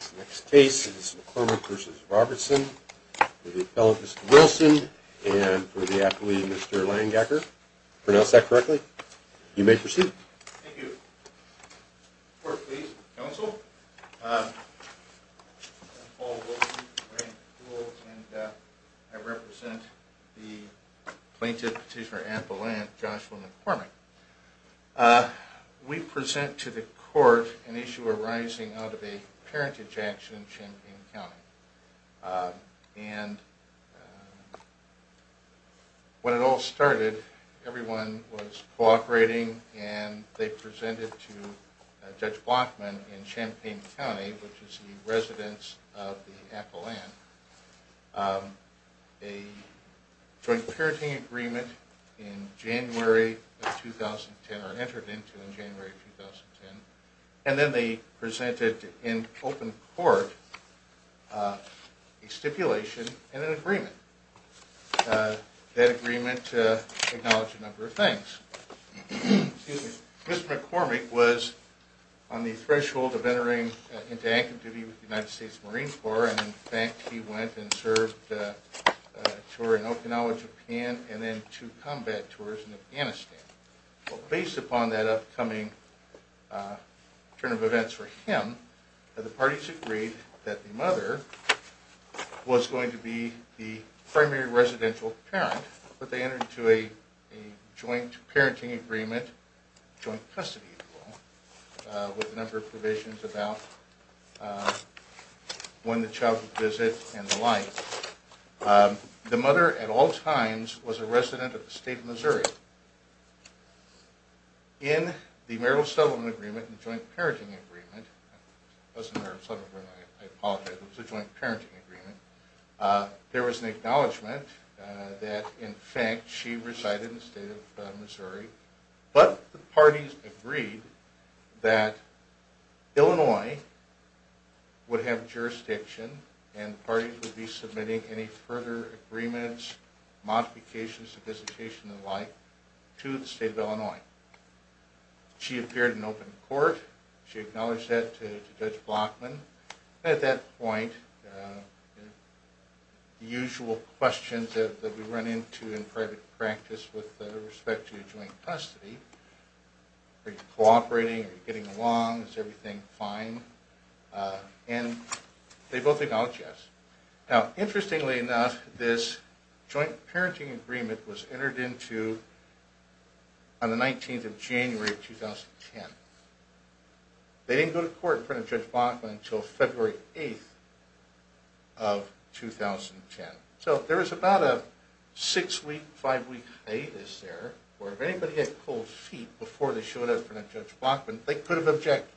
for the appellate Mr. Wilson and for the athlete Mr. Langecker. Pronounce that correctly. You may proceed. Thank you. Court, please. Counsel. I'm Paul Wilson. I represent the plaintiff, Petitioner Ann Palant, Joshua McCormick. We present to the court an issue arising out of a parent ejection in Champaign County. And when it all started, everyone was cooperating and they presented to Judge Blockman in Champaign County, which is the residence of the appellant, a joint parenting agreement in January of 2010, or entered into in January of 2010. And then they presented in open court a stipulation and an agreement. That agreement acknowledged a number of things. Mr. McCormick was on the threshold of entering into active duty with the United States Marine Corps, and in fact he went and served a tour in Okinawa, Japan, and then two combat tours in Afghanistan. Based upon that upcoming turn of events for him, the parties agreed that the mother was going to be the primary residential parent, but they entered into a joint parenting agreement, joint custody, with a number of provisions about when the child would visit and the like. The mother at all times was a resident of the state of Missouri. In the marital settlement agreement, the joint parenting agreement, it wasn't a marital settlement agreement, I apologize, it was a joint parenting agreement, there was an acknowledgment that in fact she resided in the state of Missouri, but the parties agreed that Illinois would have jurisdiction and the parties would be submitting any further agreements, modifications, and the like to the state of Illinois. She appeared in open court, she acknowledged that to Judge Blockman, and at that point the usual questions that we run into in private practice with respect to joint custody, are you cooperating, are you getting along, is everything fine, and they both acknowledged yes. Now interestingly enough, this joint parenting agreement was entered into on the 19th of January 2010. They didn't go to court in front of Judge Blockman until February 8th of 2010. So there was about a six week, five week hiatus there, where if anybody had pulled feet before they showed up in front of Judge Blockman, they could have objected.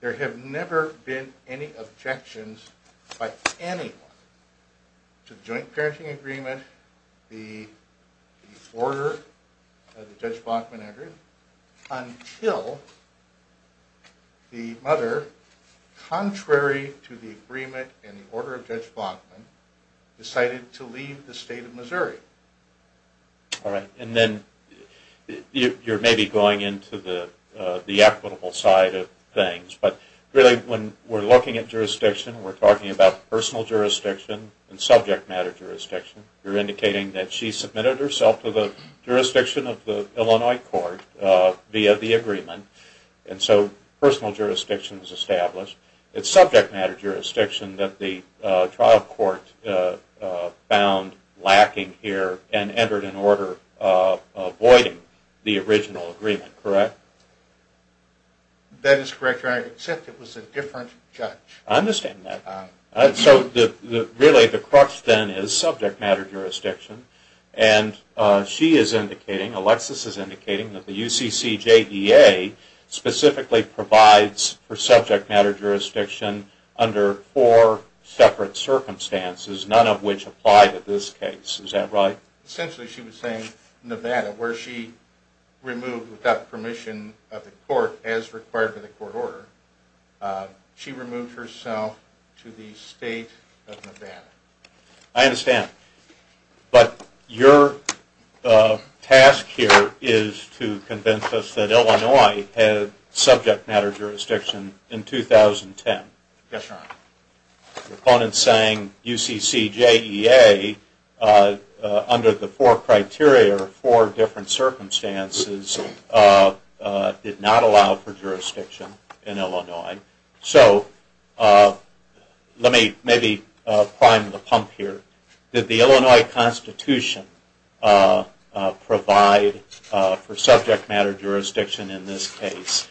There have never been any objections by anyone to the joint parenting agreement, the order that Judge Blockman entered, until the mother, contrary to the agreement and the order of Judge Blockman, decided to leave the state of Missouri. Alright, and then you're maybe going into the equitable side of things, but really when we're looking at jurisdiction, we're talking about personal jurisdiction and subject matter jurisdiction. You're indicating that she submitted herself to the jurisdiction of the Illinois court via the agreement, and so personal jurisdiction is established. It's subject matter jurisdiction that the trial court found lacking here and entered an order avoiding the original agreement, correct? That is correct, except it was a different judge. I understand that. So really the crux then is subject matter jurisdiction, and she is indicating, Alexis is indicating, that the UCCJEA specifically provides for subject matter jurisdiction under four separate circumstances, none of which apply to this case. Is that right? Essentially she was saying Nevada, where she removed without permission of the court, as required by the court order, she removed herself to the state of Nevada. I understand, but your task here is to convince us that Illinois had subject matter jurisdiction in 2010. Yes, Your Honor. The opponent is saying UCCJEA, under the four criteria, four different circumstances, did not allow for jurisdiction in Illinois. So let me maybe prime the pump here. Did the Illinois Constitution provide for subject matter jurisdiction in this case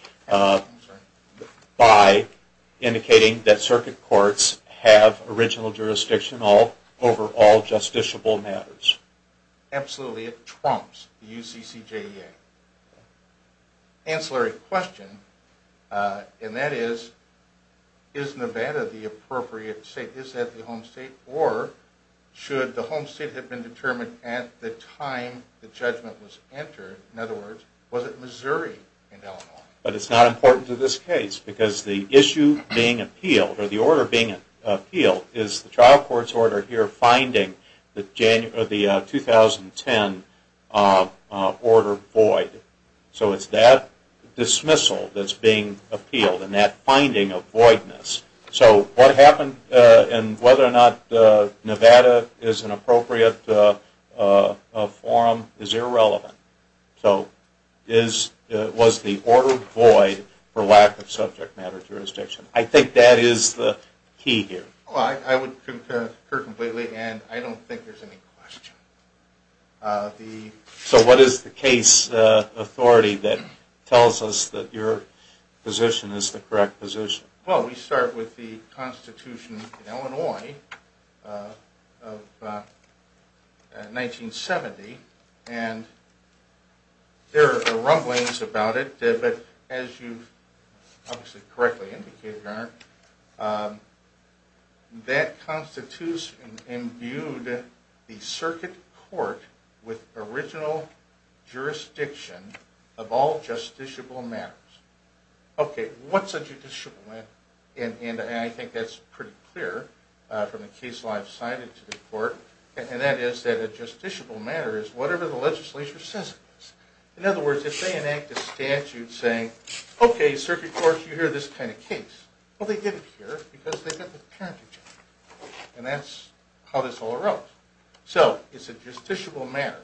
by indicating that circuit courts have original jurisdiction over all justiciable matters? Absolutely, it trumps the UCCJEA. Ancillary question, and that is, is Nevada the appropriate state? Is that the home state? Or should the home state have been determined at the time the judgment was entered? In other words, was it Missouri in Illinois? But it's not important to this case, because the issue being appealed, or the order being appealed, is the trial court's order here finding the 2010 order void. So it's that dismissal that's being appealed, and that finding of voidness. So what happened, and whether or not Nevada is an appropriate forum is irrelevant. So was the order void for lack of subject matter jurisdiction? I think that is the key here. I would concur completely, and I don't think there's any question. So what is the case authority that tells us that your position is the correct position? Well, we start with the Constitution of Illinois of 1970, and there are rumblings about it, but as you've obviously correctly indicated, Your Honor, that Constitution imbued the circuit court with original jurisdiction of all justiciable matters. Okay, what's a justiciable matter? And I think that's pretty clear from the case law I've cited to the court, and that is that a justiciable matter is whatever the legislature says it is. In other words, if they enact a statute saying, okay, circuit court, you hear this kind of case, well, they did it here because they've got the parentage, and that's how this all arose. So it's a justiciable matter.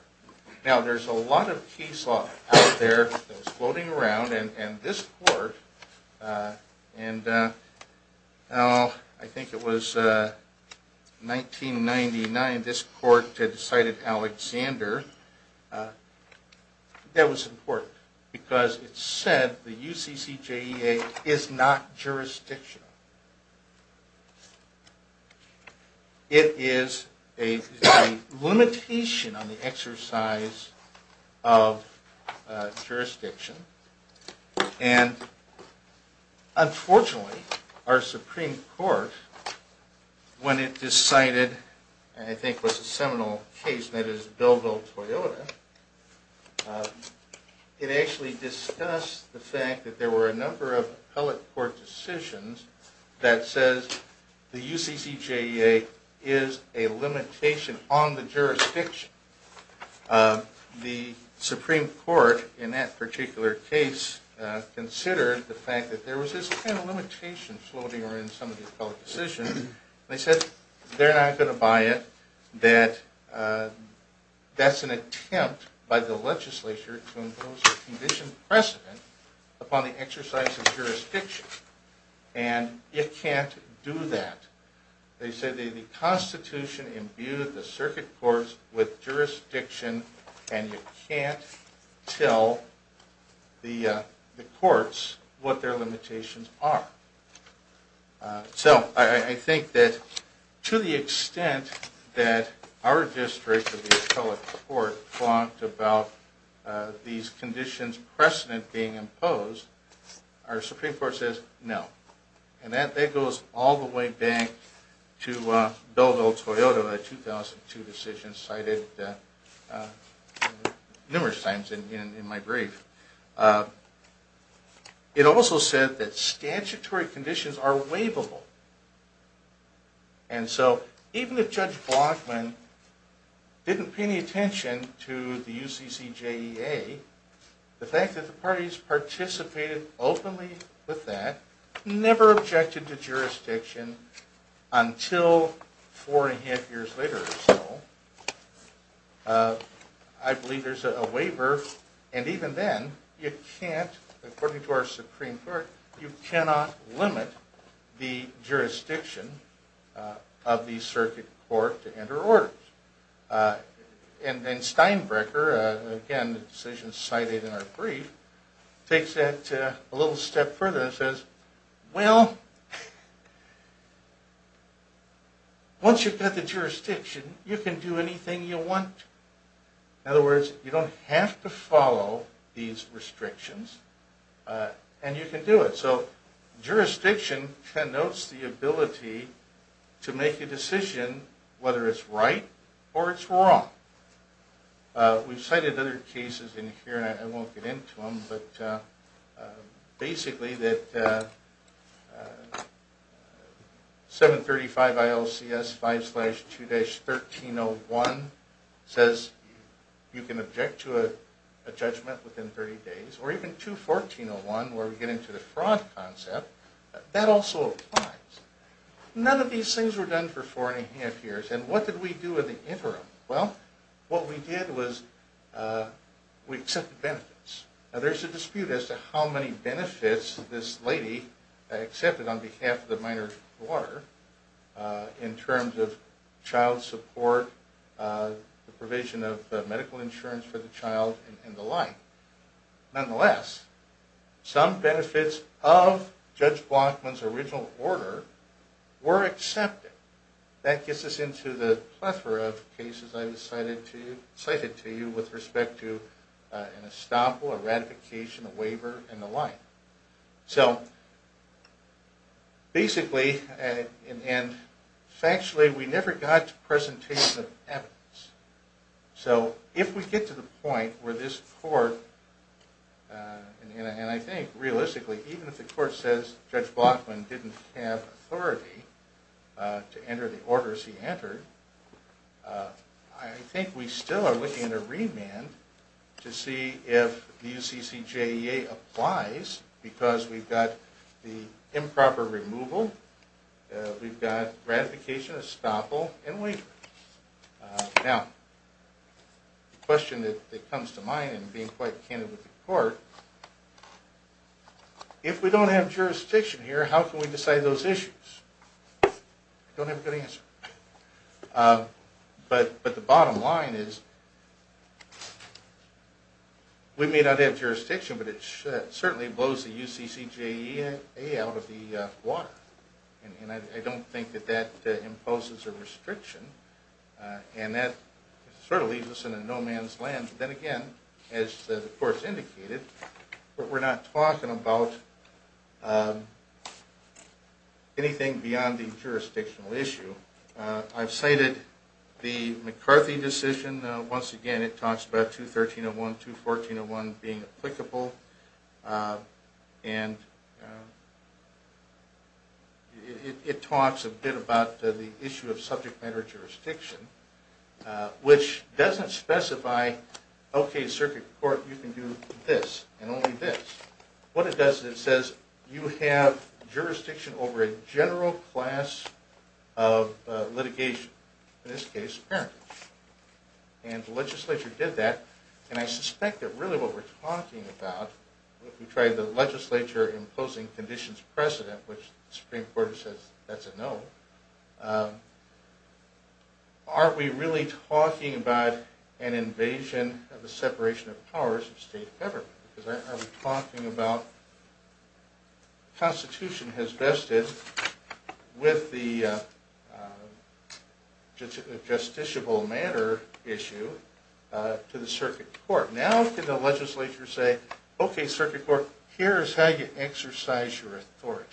Now, there's a lot of case law out there that's floating around, and this court, and I think it was 1999 this court had cited Alexander. That was important because it said the UCCJEA is not jurisdictional. It is a limitation on the exercise of jurisdiction, and unfortunately, our Supreme Court, when it decided, I think it was a seminal case, and that is Bilbo Toyota, it actually discussed the fact that there were a number of appellate court decisions that says the UCCJEA is a limitation on the jurisdiction. The Supreme Court, in that particular case, considered the fact that there was this kind of limitation floating around in some of the appellate decisions, and they said they're not going to buy it, that that's an attempt by the legislature to impose a condition precedent upon the exercise of jurisdiction, and it can't do that. They said the Constitution imbued the circuit courts with jurisdiction, and you can't tell the courts what their limitations are. So I think that to the extent that our district of the appellate court talked about these conditions precedent being imposed, our Supreme Court says no. And that goes all the way back to Bilbo Toyota, a 2002 decision cited numerous times in my brief. It also said that statutory conditions are waivable, and so even if Judge Blockman didn't pay any attention to the UCCJEA, the fact that the parties participated openly with that, never objected to jurisdiction until four and a half years later or so, I believe there's a waiver. And even then, according to our Supreme Court, you cannot limit the jurisdiction of the circuit court to enter orders. And Steinbrecher, again, the decision cited in our brief, takes that a little step further and says, well, once you've got the jurisdiction, you can do anything you want. In other words, you don't have to follow these restrictions, and you can do it. So jurisdiction connotes the ability to make a decision whether it's right or it's wrong. We've cited other cases in here, and I won't get into them, but basically that 735 ILCS 5-2-1301 says you can object to a judgment within 30 days, or even 214-01 where we get into the fraud concept, that also applies. None of these things were done for four and a half years, and what did we do in the interim? Well, what we did was we accepted benefits. Now there's a dispute as to how many benefits this lady accepted on behalf of the minor quarter in terms of child support, the provision of medical insurance for the child, and the like. Nonetheless, some benefits of Judge Blockman's original order were accepted. That gets us into the plethora of cases I've cited to you with respect to an estoppel, a ratification, a waiver, and the like. So basically, and factually, we never got to presentation of evidence. So if we get to the point where this court, and I think realistically, even if the court says Judge Blockman didn't have authority to enter the orders he entered, I think we still are looking at a remand to see if the UCCJEA applies, because we've got the improper removal, we've got ratification, estoppel, and waiver. Now, the question that comes to mind in being quite candid with the court, if we don't have jurisdiction here, how can we decide those issues? I don't have a good answer. But the bottom line is we may not have jurisdiction, but it certainly blows the UCCJEA out of the water. And I don't think that that imposes a restriction. And that sort of leaves us in a no-man's land. But then again, as the court's indicated, we're not talking about anything beyond the jurisdictional issue. I've cited the McCarthy decision. Once again, it talks about 213.01, 214.01 being applicable. And it talks a bit about the issue of subject matter jurisdiction, which doesn't specify, okay, circuit court, you can do this and only this. What it does is it says you have jurisdiction over a general class of litigation. In this case, parentage. And the legislature did that. And I suspect that really what we're talking about, if we try the legislature imposing conditions precedent, which the Supreme Court says that's a no, aren't we really talking about an invasion of the separation of powers of state government? Because aren't we talking about the Constitution has vested with the justiciable matter issue to the circuit court. Now can the legislature say, okay, circuit court, here's how you exercise your authority.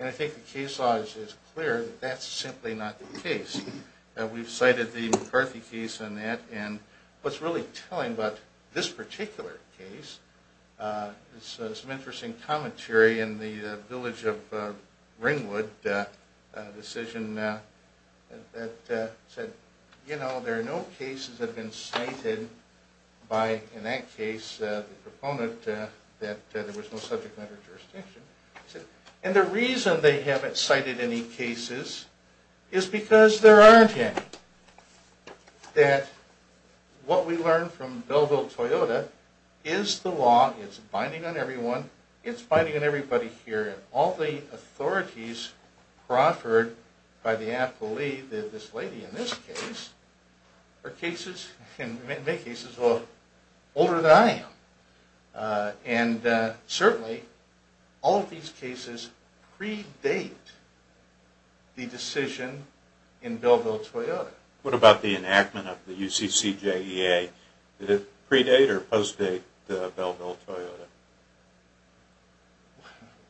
And I think the case law is clear that that's simply not the case. We've cited the McCarthy case on that. And what's really telling about this particular case is some interesting commentary in the village of Ringwood, a decision that said, you know, there are no cases that have been cited by, in that case, the proponent that there was no subject matter jurisdiction. And the reason they haven't cited any cases is because there aren't any. That what we learned from Bellville-Toyota is the law is binding on everyone. It's binding on everybody here. And all the authorities proffered by the appellee, this lady in this case, are cases, in many cases, older than I am. And certainly, all of these cases predate the decision in Bellville-Toyota. What about the enactment of the UCC-JEA? Did it predate or postdate Bellville-Toyota?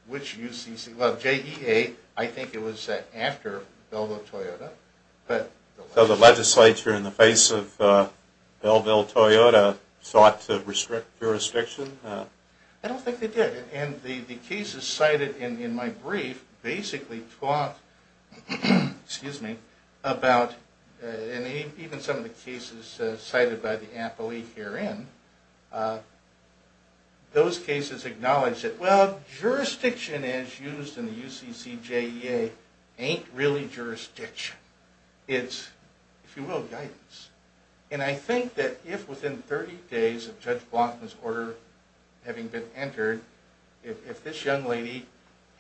Which UCC? Well, JEA, I think it was after Bellville-Toyota. So the legislature, in the face of Bellville-Toyota, sought to restrict jurisdiction? I don't think they did. And the cases cited in my brief basically talk about, and even some of the cases cited by the appellee herein, those cases acknowledge that, well, jurisdiction as used in the UCC-JEA ain't really jurisdiction. It's, if you will, guidance. And I think that if within 30 days of Judge Blatham's order having been entered, if this young lady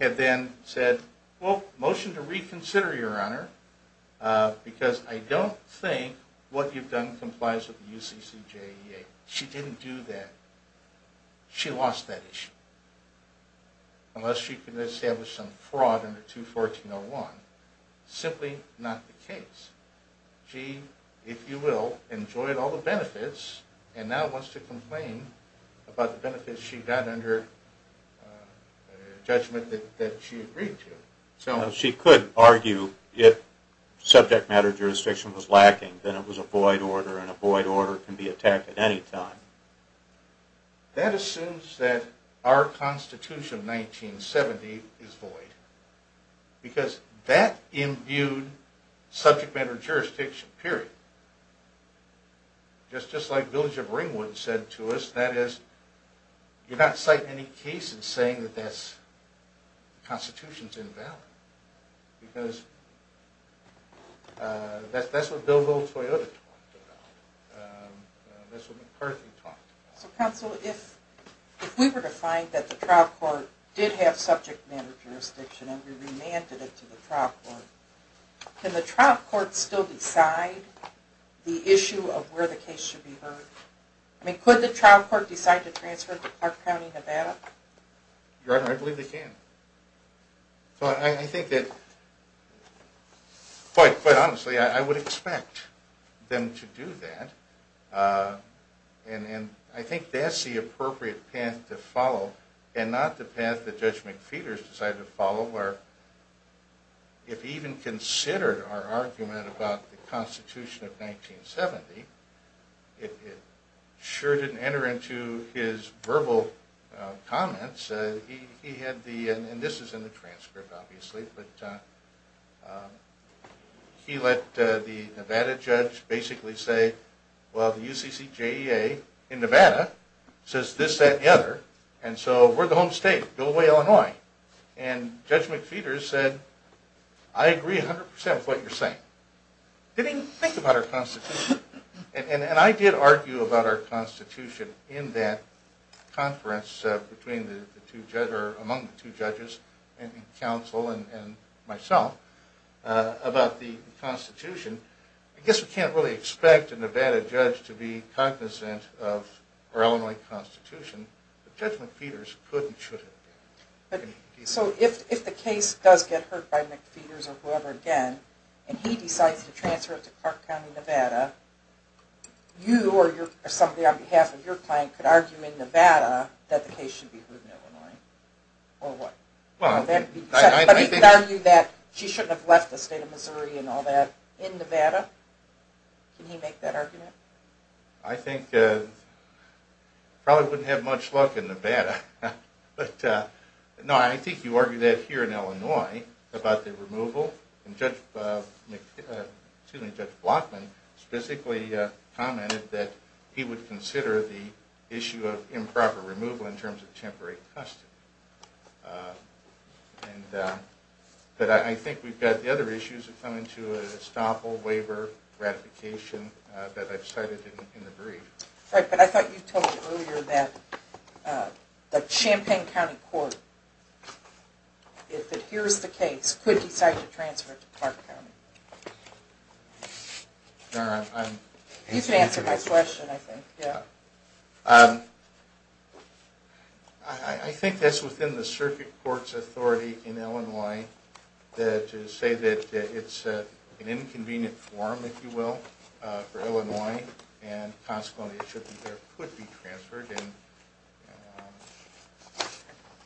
had then said, well, motion to reconsider, Your Honor, because I don't think what you've done complies with the UCC-JEA. She didn't do that. She lost that issue. Unless she could establish some fraud under 214.01. Simply not the case. She, if you will, enjoyed all the benefits, and now wants to complain about the benefits she got under a judgment that she agreed to. She could argue if subject matter jurisdiction was lacking, then it was a void order, and a void order can be attacked at any time. That assumes that our Constitution of 1970 is void. Because that imbued subject matter jurisdiction, period. Just like Village of Ringwood said to us, that is, you're not citing any cases saying that the Constitution's invalid. Because that's what Bill Hill-Toyota talked about. That's what McCarthy talked about. So, counsel, if we were to find that the trial court did have subject matter jurisdiction and we remanded it to the trial court, can the trial court still decide the issue of where the case should be heard? I mean, could the trial court decide to transfer it to Clark County, Nevada? Your Honor, I believe they can. I think that, quite honestly, I would expect them to do that. And I think that's the appropriate path to follow, and not the path that Judge McPheeters decided to follow, where if he even considered our argument about the Constitution of 1970, it sure didn't enter into his verbal comments. He had the, and this is in the transcript, obviously, but he let the Nevada judge basically say, well, the UCCJEA in Nevada says this, that, and the other, and so we're the home state, go away, Illinois. And Judge McPheeters said, I agree 100% with what you're saying. Didn't even think about our Constitution. And I did argue about our Constitution in that conference between the two judges, or among the two judges, and counsel and myself, about the Constitution. I guess we can't really expect a Nevada judge to be cognizant of our Illinois Constitution, but Judge McPheeters could and should. So if the case does get heard by McPheeters or whoever again, and he decides to transfer it to Clark County, Nevada, you or somebody on behalf of your client could argue in Nevada that the case should be heard in Illinois, or what? But he could argue that she shouldn't have left the state of Missouri and all that in Nevada. Can he make that argument? I think, probably wouldn't have much luck in Nevada. But no, I think you argue that here in Illinois about the removal, and Judge Blockman specifically commented that he would consider the issue of improper removal in terms of temporary custody. But I think we've got the other issues that come into it, estoppel, waiver, ratification, that I've cited in the brief. Right, but I thought you told me earlier that the Champaign County Court, if it hears the case, could decide to transfer it to Clark County. You can answer my question, I think. Yeah. I think that's within the circuit court's authority in Illinois to say that it's an inconvenient form, if you will, for Illinois, and consequently it should be there, could be transferred, and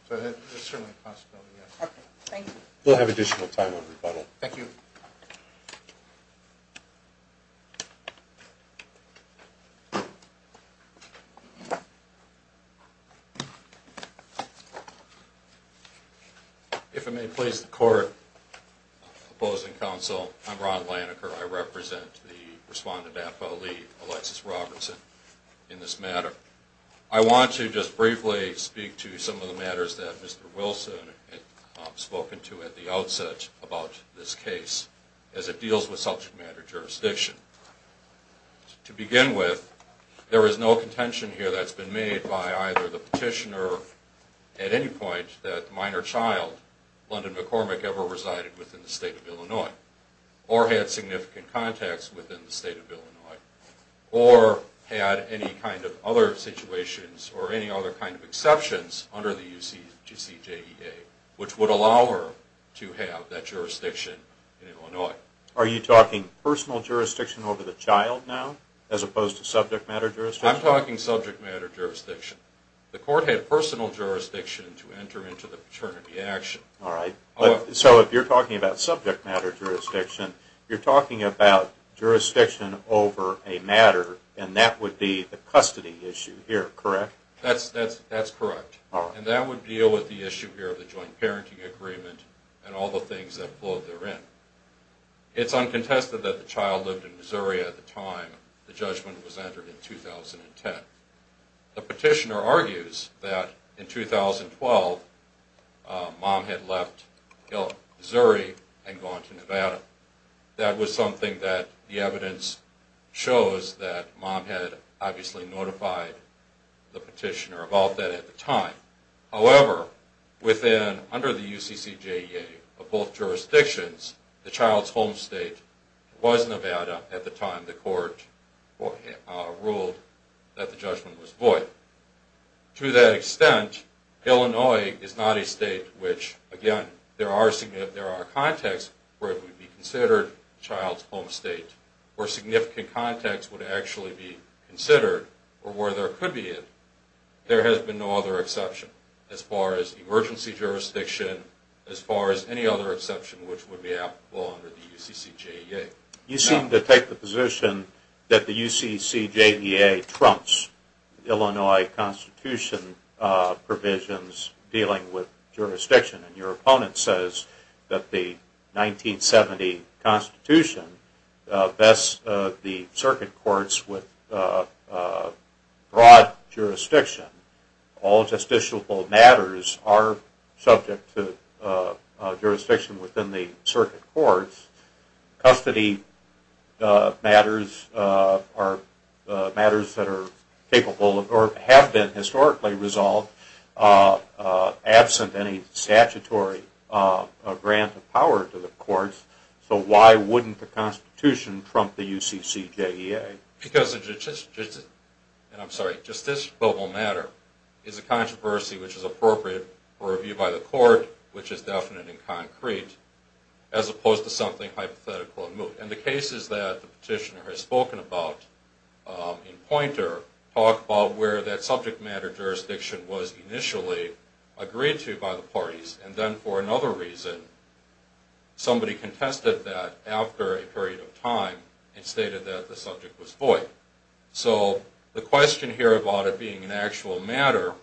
so there's certainly a possibility there. Okay, thank you. We'll have additional time on rebuttal. Thank you. If I may please the court, opposing counsel, I'm Ron Laniker. I represent the respondent affilee, Alexis Robertson, in this matter. I want to just briefly speak to some of the matters that Mr. Wilson had spoken to at the outset about this case, as it deals with subject matter jurisdiction. To begin with, there is no contention here that's been made by either the petitioner at any point that minor child, London McCormick, ever resided within the state of Illinois, or had significant contacts within the state of Illinois, or had any kind of other situations or any other kind of exceptions under the UCJEA, which would allow her to have that jurisdiction in Illinois. Are you talking personal jurisdiction over the child now, as opposed to subject matter jurisdiction? I'm talking subject matter jurisdiction. The court had personal jurisdiction to enter into the paternity action. All right. So if you're talking about subject matter jurisdiction, you're talking about jurisdiction over a matter, and that would be the custody issue here, correct? That's correct. All right. That would deal with the issue here of the joint parenting agreement and all the things that flowed therein. It's uncontested that the child lived in Missouri at the time the judgment was entered in 2010. The petitioner argues that in 2012, Mom had left Missouri and gone to Nevada. That was something that the evidence shows that Mom had obviously notified the petitioner about that at the time. However, under the UCCJEA of both jurisdictions, the child's home state was Nevada at the time the court ruled that the judgment was void. To that extent, Illinois is not a state which, again, there are contexts where it would be considered a child's home state, where significant context would actually be considered, or where there could be it. There has been no other exception as far as emergency jurisdiction, as far as any other exception which would be applicable under the UCCJEA. You seem to take the position that the UCCJEA trumps Illinois Constitution provisions dealing with jurisdiction. Your opponent says that the 1970 Constitution vests the circuit courts with broad jurisdiction. All justiciable matters are subject to jurisdiction within the circuit courts. Custody matters have been historically resolved absent any statutory grant of power to the courts, so why wouldn't the Constitution trump the UCCJEA? Because a justiciable matter is a controversy which is appropriate for review by the court, which is definite and concrete, as opposed to something hypothetical and moot. And the cases that the petitioner has spoken about in Poynter talk about where that subject matter jurisdiction was initially agreed to by the parties. And then for another reason, somebody contested that after a period of time and stated that the subject was void. So the question here about it being an actual matter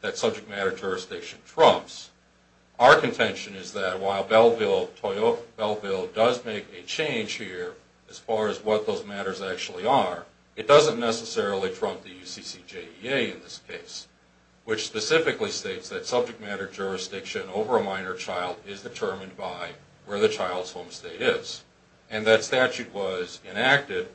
that subject matter jurisdiction trumps, our contention is that while Belleville does make a change here as far as what those matters actually are, it doesn't necessarily trump the UCCJEA in this case, which specifically states that subject matter jurisdiction over a minor child is determined by where the child's home state is. And that statute was enacted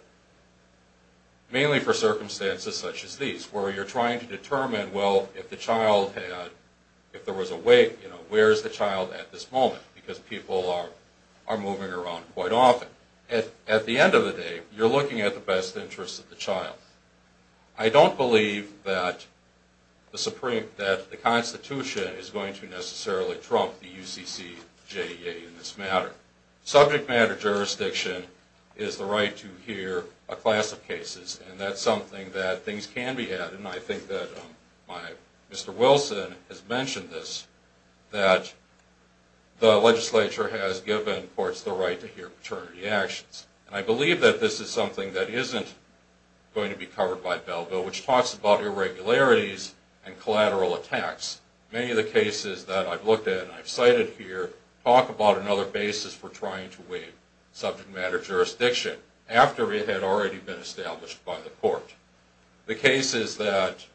mainly for circumstances such as these, where you're trying to determine, well, if there was a wake, where is the child at this moment? Because people are moving around quite often. At the end of the day, you're looking at the best interest of the child. I don't believe that the Constitution is going to necessarily trump the UCCJEA in this matter. Subject matter jurisdiction is the right to hear a class of cases, and that's something that things can be added. And I think that Mr. Wilson has mentioned this, that the legislature has given courts the right to hear paternity actions. And I believe that this is something that isn't going to be covered by Belleville, which talks about irregularities and collateral attacks. Many of the cases that I've looked at and I've cited here talk about another basis for trying to waive subject matter jurisdiction, after it had already been established by the court. The cases that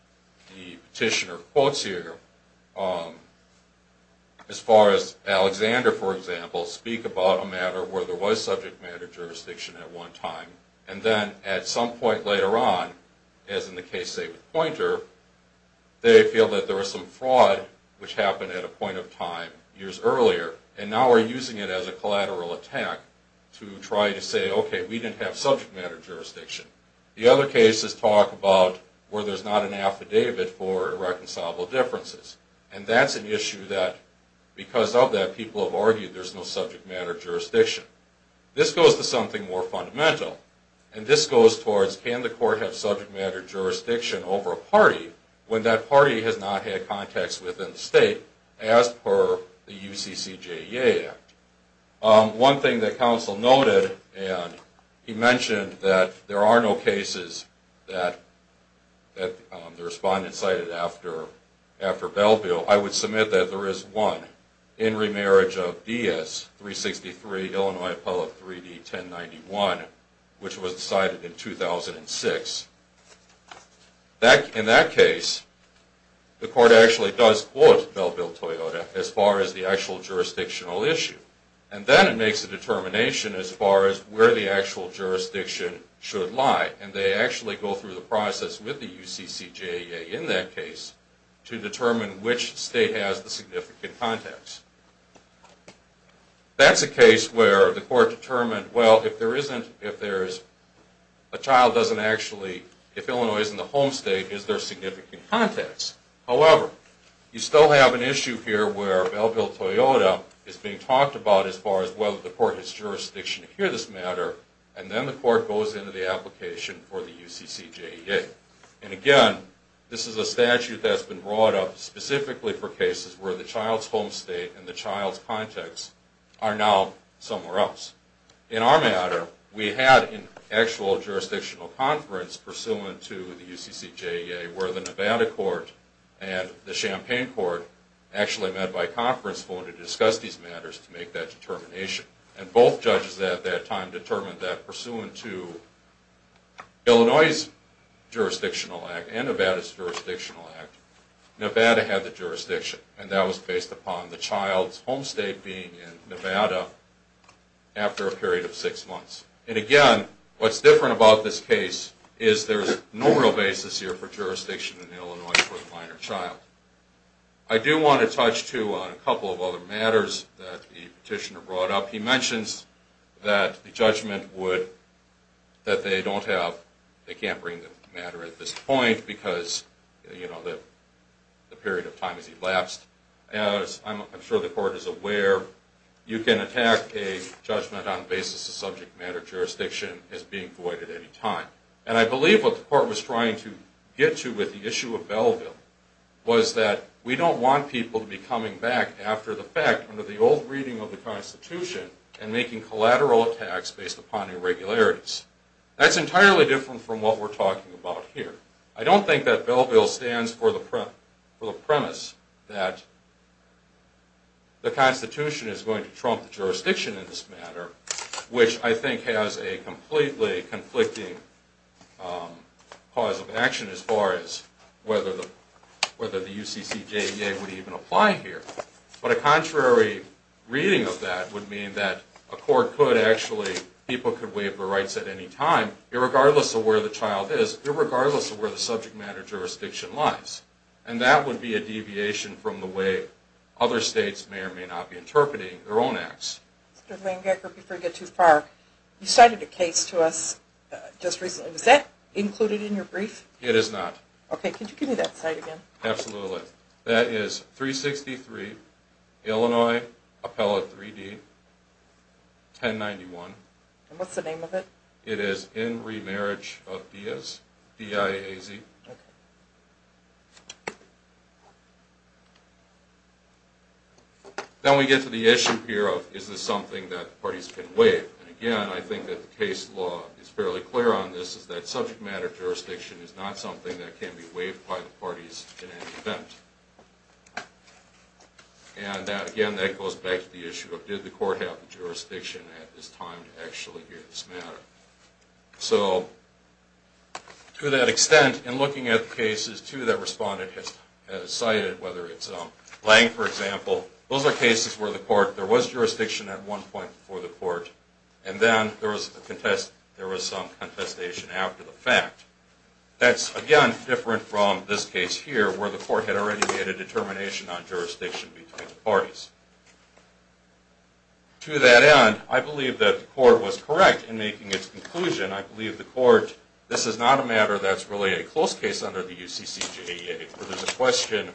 the petitioner quotes here, as far as Alexander, for example, speak about a matter where there was subject matter jurisdiction at one time, and then at some point later on, as in the case, say, with Poynter, they feel that there was some fraud which happened at a point of time years earlier, and now are using it as a collateral attack to try to say, okay, we didn't have subject matter jurisdiction. The other cases talk about where there's not an affidavit for irreconcilable differences. And that's an issue that, because of that, people have argued there's no subject matter jurisdiction. This goes to something more fundamental. And this goes towards, can the court have subject matter jurisdiction over a party when that party has not had contacts within the state as per the UCCJEA Act? One thing that counsel noted, and he mentioned that there are no cases that the respondent cited after Belleville, I would submit that there is one, in remarriage of DS-363, Illinois Appellate 3D-1091, which was decided in 2006. In that case, the court actually does quote Belleville-Toyota as far as the actual jurisdictional issue. And then it makes a determination as far as where the actual jurisdiction should lie. And they actually go through the process with the UCCJEA in that case to determine which state has the significant contacts. That's a case where the court determined, well, if there isn't, if there's a child doesn't actually, if Illinois isn't the home state, is there significant contacts? However, you still have an issue here where Belleville-Toyota is being talked about as far as whether the court has jurisdiction to hear this matter, and then the court goes into the application for the UCCJEA. And again, this is a statute that's been brought up specifically for cases where the child's home state and the child's contacts are now somewhere else. In our matter, we had an actual jurisdictional conference pursuant to the UCCJEA where the Nevada court and the Champaign court actually met by conference phone to discuss these matters to make that determination. And both judges at that time determined that pursuant to Illinois' jurisdictional act and Nevada's jurisdictional act, Nevada had the jurisdiction. And that was based upon the child's home state being in Nevada after a period of six months. And again, what's different about this case is there's no real basis here for jurisdiction in Illinois for a minor child. I do want to touch, too, on a couple of other matters that the petitioner brought up. He mentions that the judgment would, that they don't have, they can't bring the matter at this point because, you know, the period of time has elapsed. As I'm sure the court is aware, you can attack a judgment on the basis of subject matter jurisdiction as being void at any time. And I believe what the court was trying to get to with the issue of Belleville was that we don't want people to be coming back after the fact under the old reading of the Constitution and making collateral attacks based upon irregularities. That's entirely different from what we're talking about here. I don't think that Belleville stands for the premise that the Constitution is going to trump the jurisdiction in this matter, which I think has a completely conflicting cause of action as far as whether the UCCJEA would even apply here. But a contrary reading of that would mean that a court could actually, people could waive the rights at any time, irregardless of where the child is, irregardless of where the subject matter jurisdiction lies. And that would be a deviation from the way other states may or may not be interpreting their own acts. Mr. Langecker, before you get too far, you cited a case to us just recently. Was that included in your brief? It is not. Okay, could you give me that site again? Absolutely. That is 363 Illinois Appellate 3D, 1091. And what's the name of it? It is In Remarriage of Diaz, D-I-A-Z. Okay. Then we get to the issue here of is this something that parties can waive? And again, I think that the case law is fairly clear on this, is that subject matter jurisdiction is not something that can be waived by the parties in any event. And again, that goes back to the issue of did the court have the jurisdiction at this time to actually hear this matter? So to that extent, in looking at the cases, too, that respondent has cited, whether it's Lange, for example, those are cases where the court, there was jurisdiction at one point before the court, and then there was some contestation after the fact. That's, again, different from this case here where the court had already made a determination on jurisdiction between the parties. To that end, I believe that the court was correct in making its conclusion. I believe the court, this is not a matter that's really a close case under the UCCGEA, where there's a question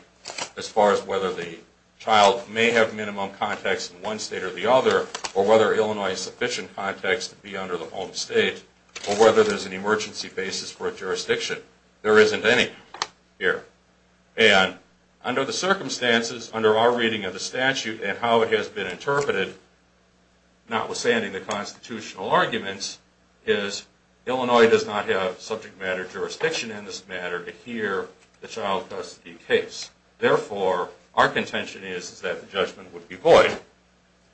as far as whether the child may have minimum context in one state or the other, or whether Illinois has sufficient context to be under the home state, or whether there's an emergency basis for a jurisdiction. There isn't any here. And under the circumstances, under our reading of the statute and how it has been interpreted, notwithstanding the constitutional arguments, is Illinois does not have subject matter jurisdiction in this matter to hear the child custody case. Therefore, our contention is that the judgment would be void.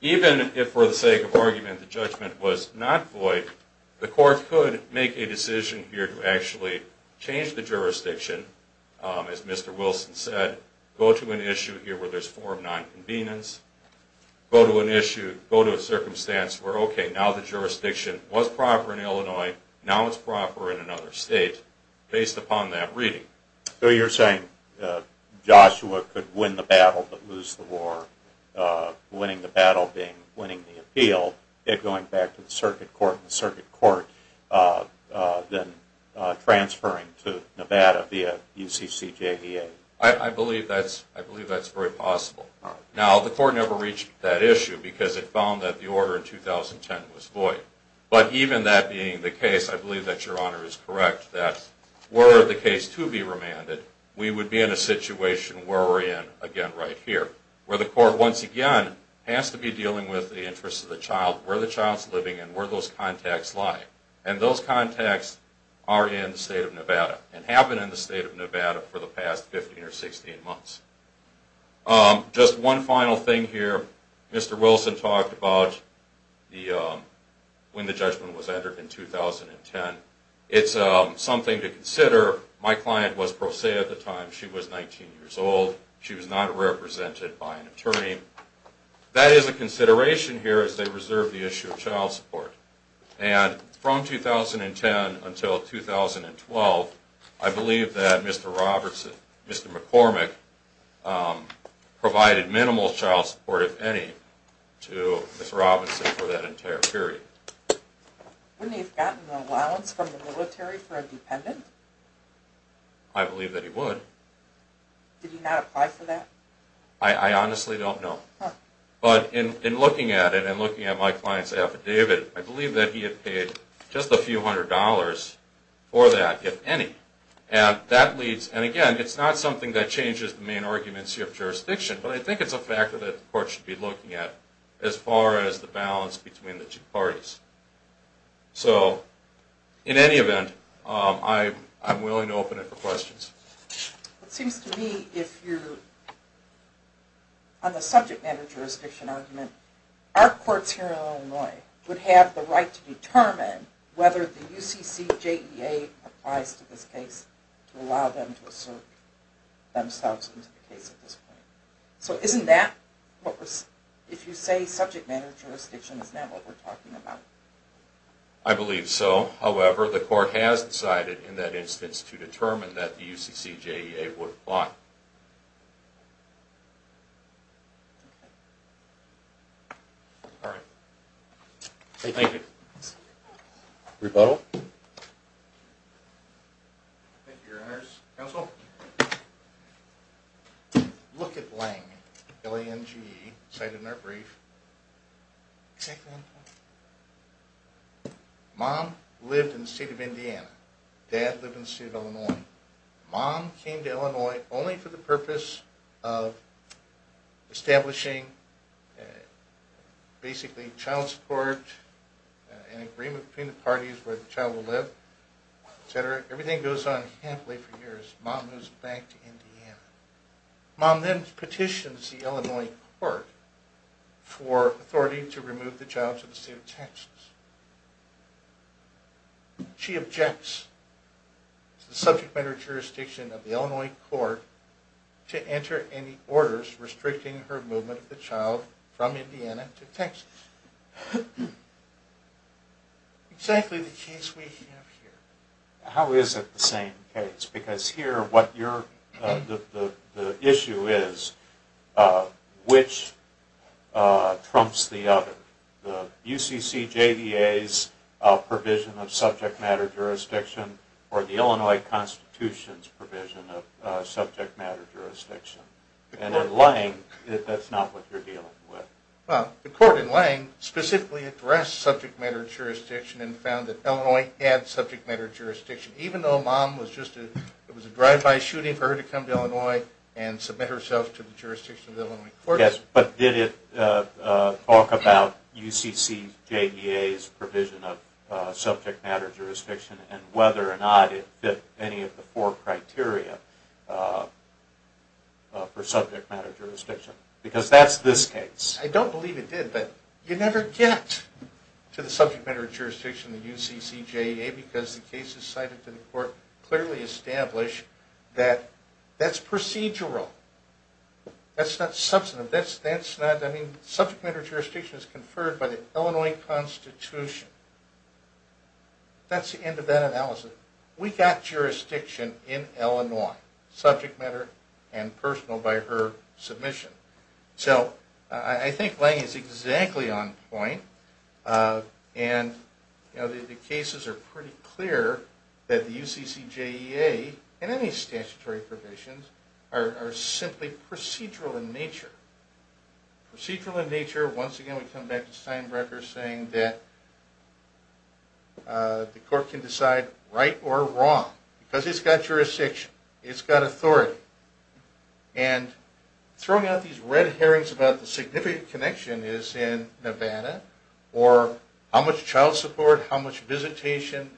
Even if, for the sake of argument, the judgment was not void, the court could make a decision here to actually change the jurisdiction as Mr. Wilson said, go to an issue here where there's a form of non-convenience, go to an issue, go to a circumstance where, okay, now the jurisdiction was proper in Illinois, now it's proper in another state, based upon that reading. So you're saying Joshua could win the battle but lose the war, winning the battle being winning the appeal, yet going back to the circuit court and the circuit court then transferring to Nevada via UCCJEA? I believe that's very possible. Now, the court never reached that issue because it found that the order in 2010 was void. But even that being the case, I believe that Your Honor is correct that were the case to be remanded, we would be in a situation where we're in again right here, where the court once again has to be dealing with the interest of the child, where the child's living, and where those contacts lie. And those contacts are in the state of Nevada and have been in the state of Nevada for the past 15 or 16 months. Just one final thing here. Mr. Wilson talked about when the judgment was entered in 2010. It's something to consider. My client was pro se at the time. She was 19 years old. She was not represented by an attorney. That is a consideration here as they reserve the issue of child support. And from 2010 until 2012, I believe that Mr. McCormick provided minimal child support, if any, to Ms. Robinson for that entire period. Wouldn't he have gotten an allowance from the military for a dependent? I believe that he would. Did he not apply for that? I honestly don't know. But in looking at it and looking at my client's affidavit, I believe that he had paid just a few hundred dollars for that, if any. And again, it's not something that changes the main arguments here of jurisdiction, but I think it's a factor that the court should be looking at as far as the balance between the two parties. So in any event, I'm willing to open it for questions. It seems to me if you're on the subject matter jurisdiction argument, our courts here in Illinois would have the right to determine whether the UCCJEA applies to this case to allow them to assert themselves into the case at this point. So isn't that what we're... If you say subject matter jurisdiction, isn't that what we're talking about? I believe so. However, the court has decided in that instance to determine that the UCCJEA would apply. Okay. All right. Thank you. Rebuttal? Thank you, Your Honors. Counsel? Look at Lange, L-A-N-G-E, cited in our brief. Exactly. Mom lived in the state of Indiana. Dad lived in the state of Illinois. Mom came to Illinois only for the purpose of establishing basically child support and agreement between the parties where the child will live, et cetera. Everything goes on happily for years. Mom moves back to Indiana. Mom then petitions the Illinois court for authority to remove the child to the state of Texas. She objects to the subject matter jurisdiction of the Illinois court to enter any orders restricting her movement of the child from Indiana to Texas. Exactly the case we have here. How is it the same case? Because here what you're... The issue is which trumps the other. The UCCJDA's provision of subject matter jurisdiction or the Illinois Constitution's provision of subject matter jurisdiction. And in Lange, that's not what you're dealing with. Well, the court in Lange specifically addressed subject matter jurisdiction and found that Illinois had subject matter jurisdiction. Even though Mom was just... It was a drive-by shooting for her to come to Illinois and submit herself to the jurisdiction of the Illinois court. But did it talk about UCCJDA's provision of subject matter jurisdiction and whether or not it fit any of the four criteria for subject matter jurisdiction? Because that's this case. I don't believe it did, but you never get to the subject matter jurisdiction of the UCCJDA because the cases cited to the court clearly establish that that's procedural. That's not substantive. That's not... I mean, subject matter jurisdiction is conferred by the Illinois Constitution. That's the end of that analysis. We got jurisdiction in Illinois. Subject matter and personal by her submission. So I think Lange is exactly on point. And the cases are pretty clear that the UCCJDA and any statutory provisions are simply procedural in nature. Procedural in nature. Once again, we come back to Steinbrecher saying that the court can decide right or wrong because it's got jurisdiction. It's got authority. And throwing out these red herrings about the significant connection is in Nevada or how much child support, how much visitation.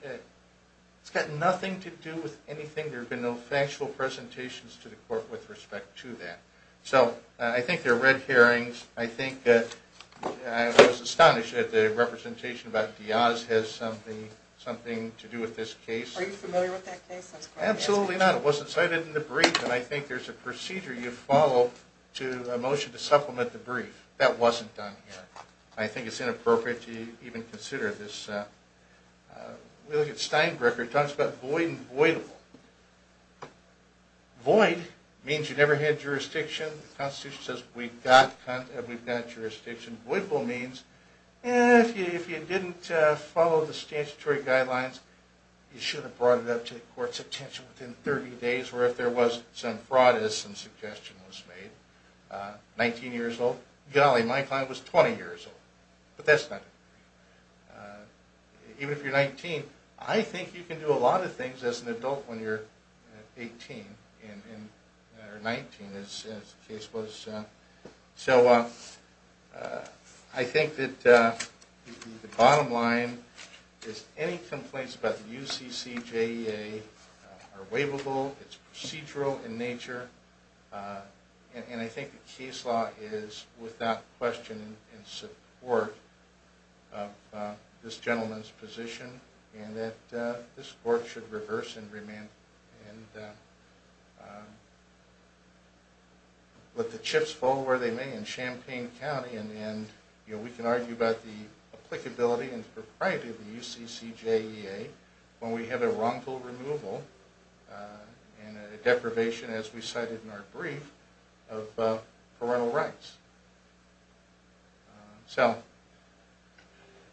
It's got nothing to do with anything. There have been no factual presentations to the court with respect to that. So I think they're red herrings. I think I was astonished at the representation about Diaz has something to do with this case. Are you familiar with that case? Absolutely not. It wasn't cited in the brief. And I think there's a procedure you follow to a motion to supplement the brief. That wasn't done here. I think it's inappropriate to even consider this. We look at Steinbrecher. He talks about void and voidable. Void means you never had jurisdiction. The Constitution says we've got jurisdiction. Voidable means if you didn't follow the statutory guidelines, you shouldn't have brought it up to the court's attention within 30 days or if there was some fraud as some suggestion was made. 19 years old. Golly, my client was 20 years old. But that's nothing. Even if you're 19, I think you can do a lot of things as an adult when you're 18 or 19, as the case was. So I think that the bottom line is any complaints about the UCCJEA are waivable. It's procedural in nature. And I think the case law is without question in support of this gentleman's position and that this court should reverse and remand and let the chips fall where they may in Champaign County. And we can argue about the applicability and propriety of the UCCJEA when we have a wrongful removal and a deprivation, as we cited in our brief, of parental rights. So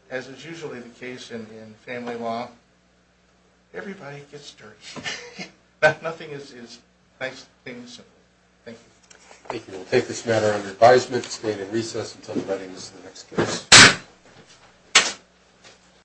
as is usually the case in family law, everybody gets dirty. Nothing is nice things. Thank you. Thank you. We'll take this matter under advisement. It's being in recess until the writing of the next case.